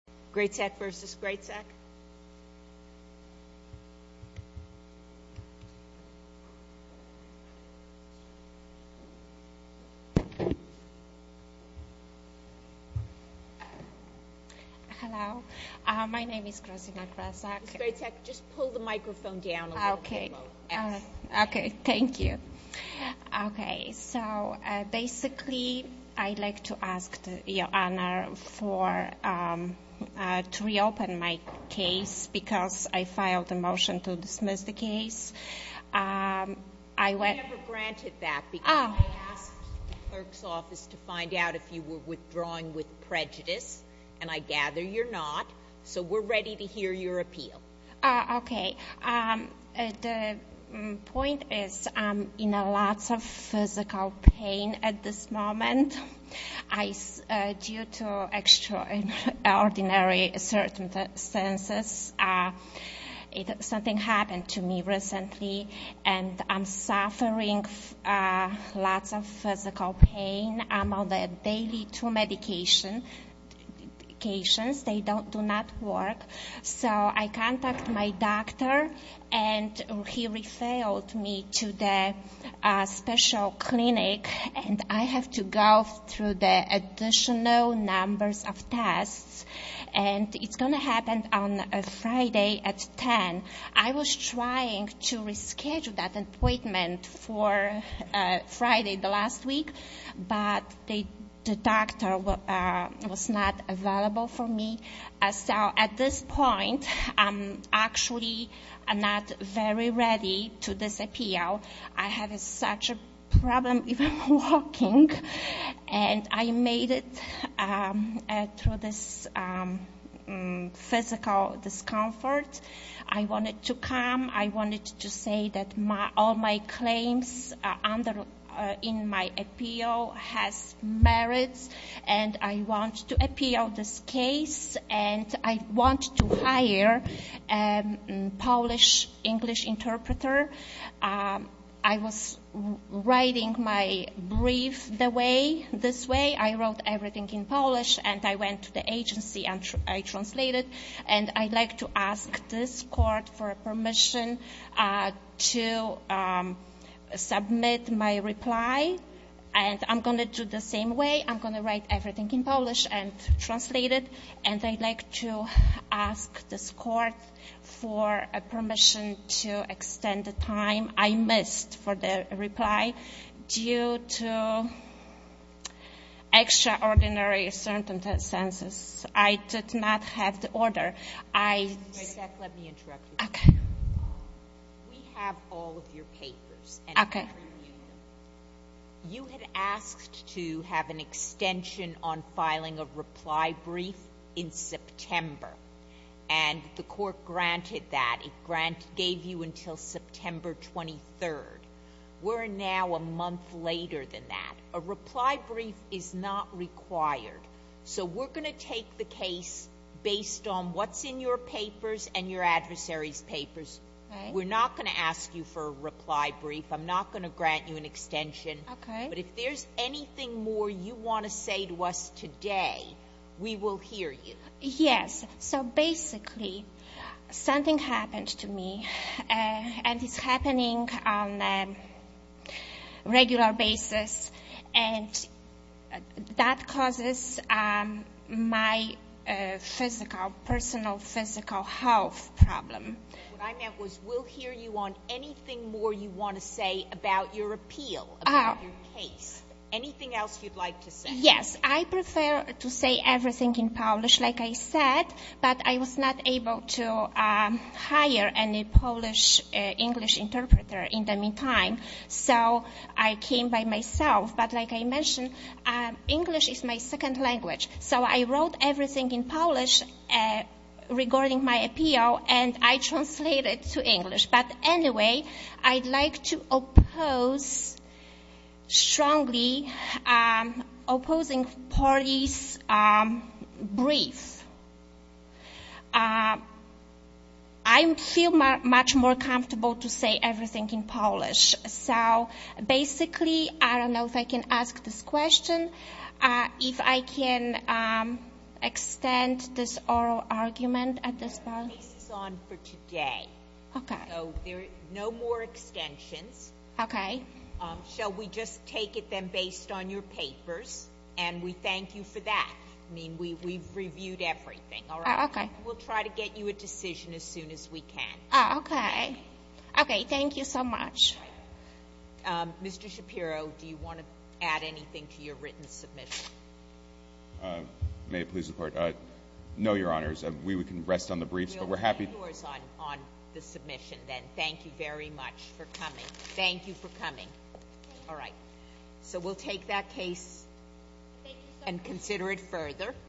Grezak v. Grezak Hello. My name is Krasina Grezak. Grezak, just pull the microphone down a little bit more. Okay. Thank you. Okay. So, basically, I'd like to ask Your Honor to reopen my case because I filed a motion to dismiss the case. I never granted that because I asked the clerk's office to find out if you were withdrawing with prejudice, and I gather you're not, so we're ready to hear your appeal. Okay. The point is I'm in lots of physical pain at this moment. Due to extraordinary circumstances, something happened to me recently, and I'm suffering lots of physical pain. I'm on the daily two medications. They do not work, so I contact my doctor, and he refilled me to the special clinic, and I have to go through the additional numbers of tests, and it's going to happen on Friday at 10. I was trying to reschedule that appointment for Friday the last week, but the doctor was not available for me. So, at this point, I'm actually not very ready to disappear. I have such a problem even walking, and I made it through this physical discomfort. I wanted to come. I wanted to say that all my claims in my appeal has merits, and I want to appeal this case, and I want to hire a Polish-English interpreter. I was writing my brief this way. I wrote everything in Polish, and I went to the agency, and I translated, and I'd like to ask this court for permission to submit my reply, and I'm going to do the same way. I'm going to write everything in Polish and translate it, and I'd like to ask this court for permission to extend the time I missed for the reply due to extraordinary circumstances. I did not have the order. Let me interrupt you. Okay. We have all of your papers. Okay. You had asked to have an extension on filing a reply brief in September, and the court granted that. It gave you until September 23rd. We're now a month later than that. A reply brief is not required. So we're going to take the case based on what's in your papers and your adversary's papers. We're not going to ask you for a reply brief. I'm not going to grant you an extension. Okay. But if there's anything more you want to say to us today, we will hear you. Yes. So basically something happened to me, and it's happening on a regular basis, and that causes my physical, personal physical health problem. What I meant was we'll hear you on anything more you want to say about your appeal, about your case, anything else you'd like to say. Yes. I prefer to say everything in Polish. Like I said, but I was not able to hire any Polish-English interpreter in the meantime, so I came by myself. But like I mentioned, English is my second language, so I wrote everything in Polish regarding my appeal, and I translated to English. But anyway, I'd like to oppose strongly opposing Polish brief. I feel much more comfortable to say everything in Polish. So basically, I don't know if I can ask this question, if I can extend this oral argument at this point. The case is on for today. Okay. So there are no more extensions. Okay. Shall we just take it then based on your papers? And we thank you for that. I mean, we've reviewed everything. All right? Okay. We'll try to get you a decision as soon as we can. Okay. Okay. Thank you so much. Mr. Shapiro, do you want to add anything to your written submission? May it please the Court? No, Your Honors. We can rest on the briefs, but we're happy. You'll be yours on the submission then. Thank you very much for coming. Thank you for coming. Thank you. All right. So we'll take that case and consider it further.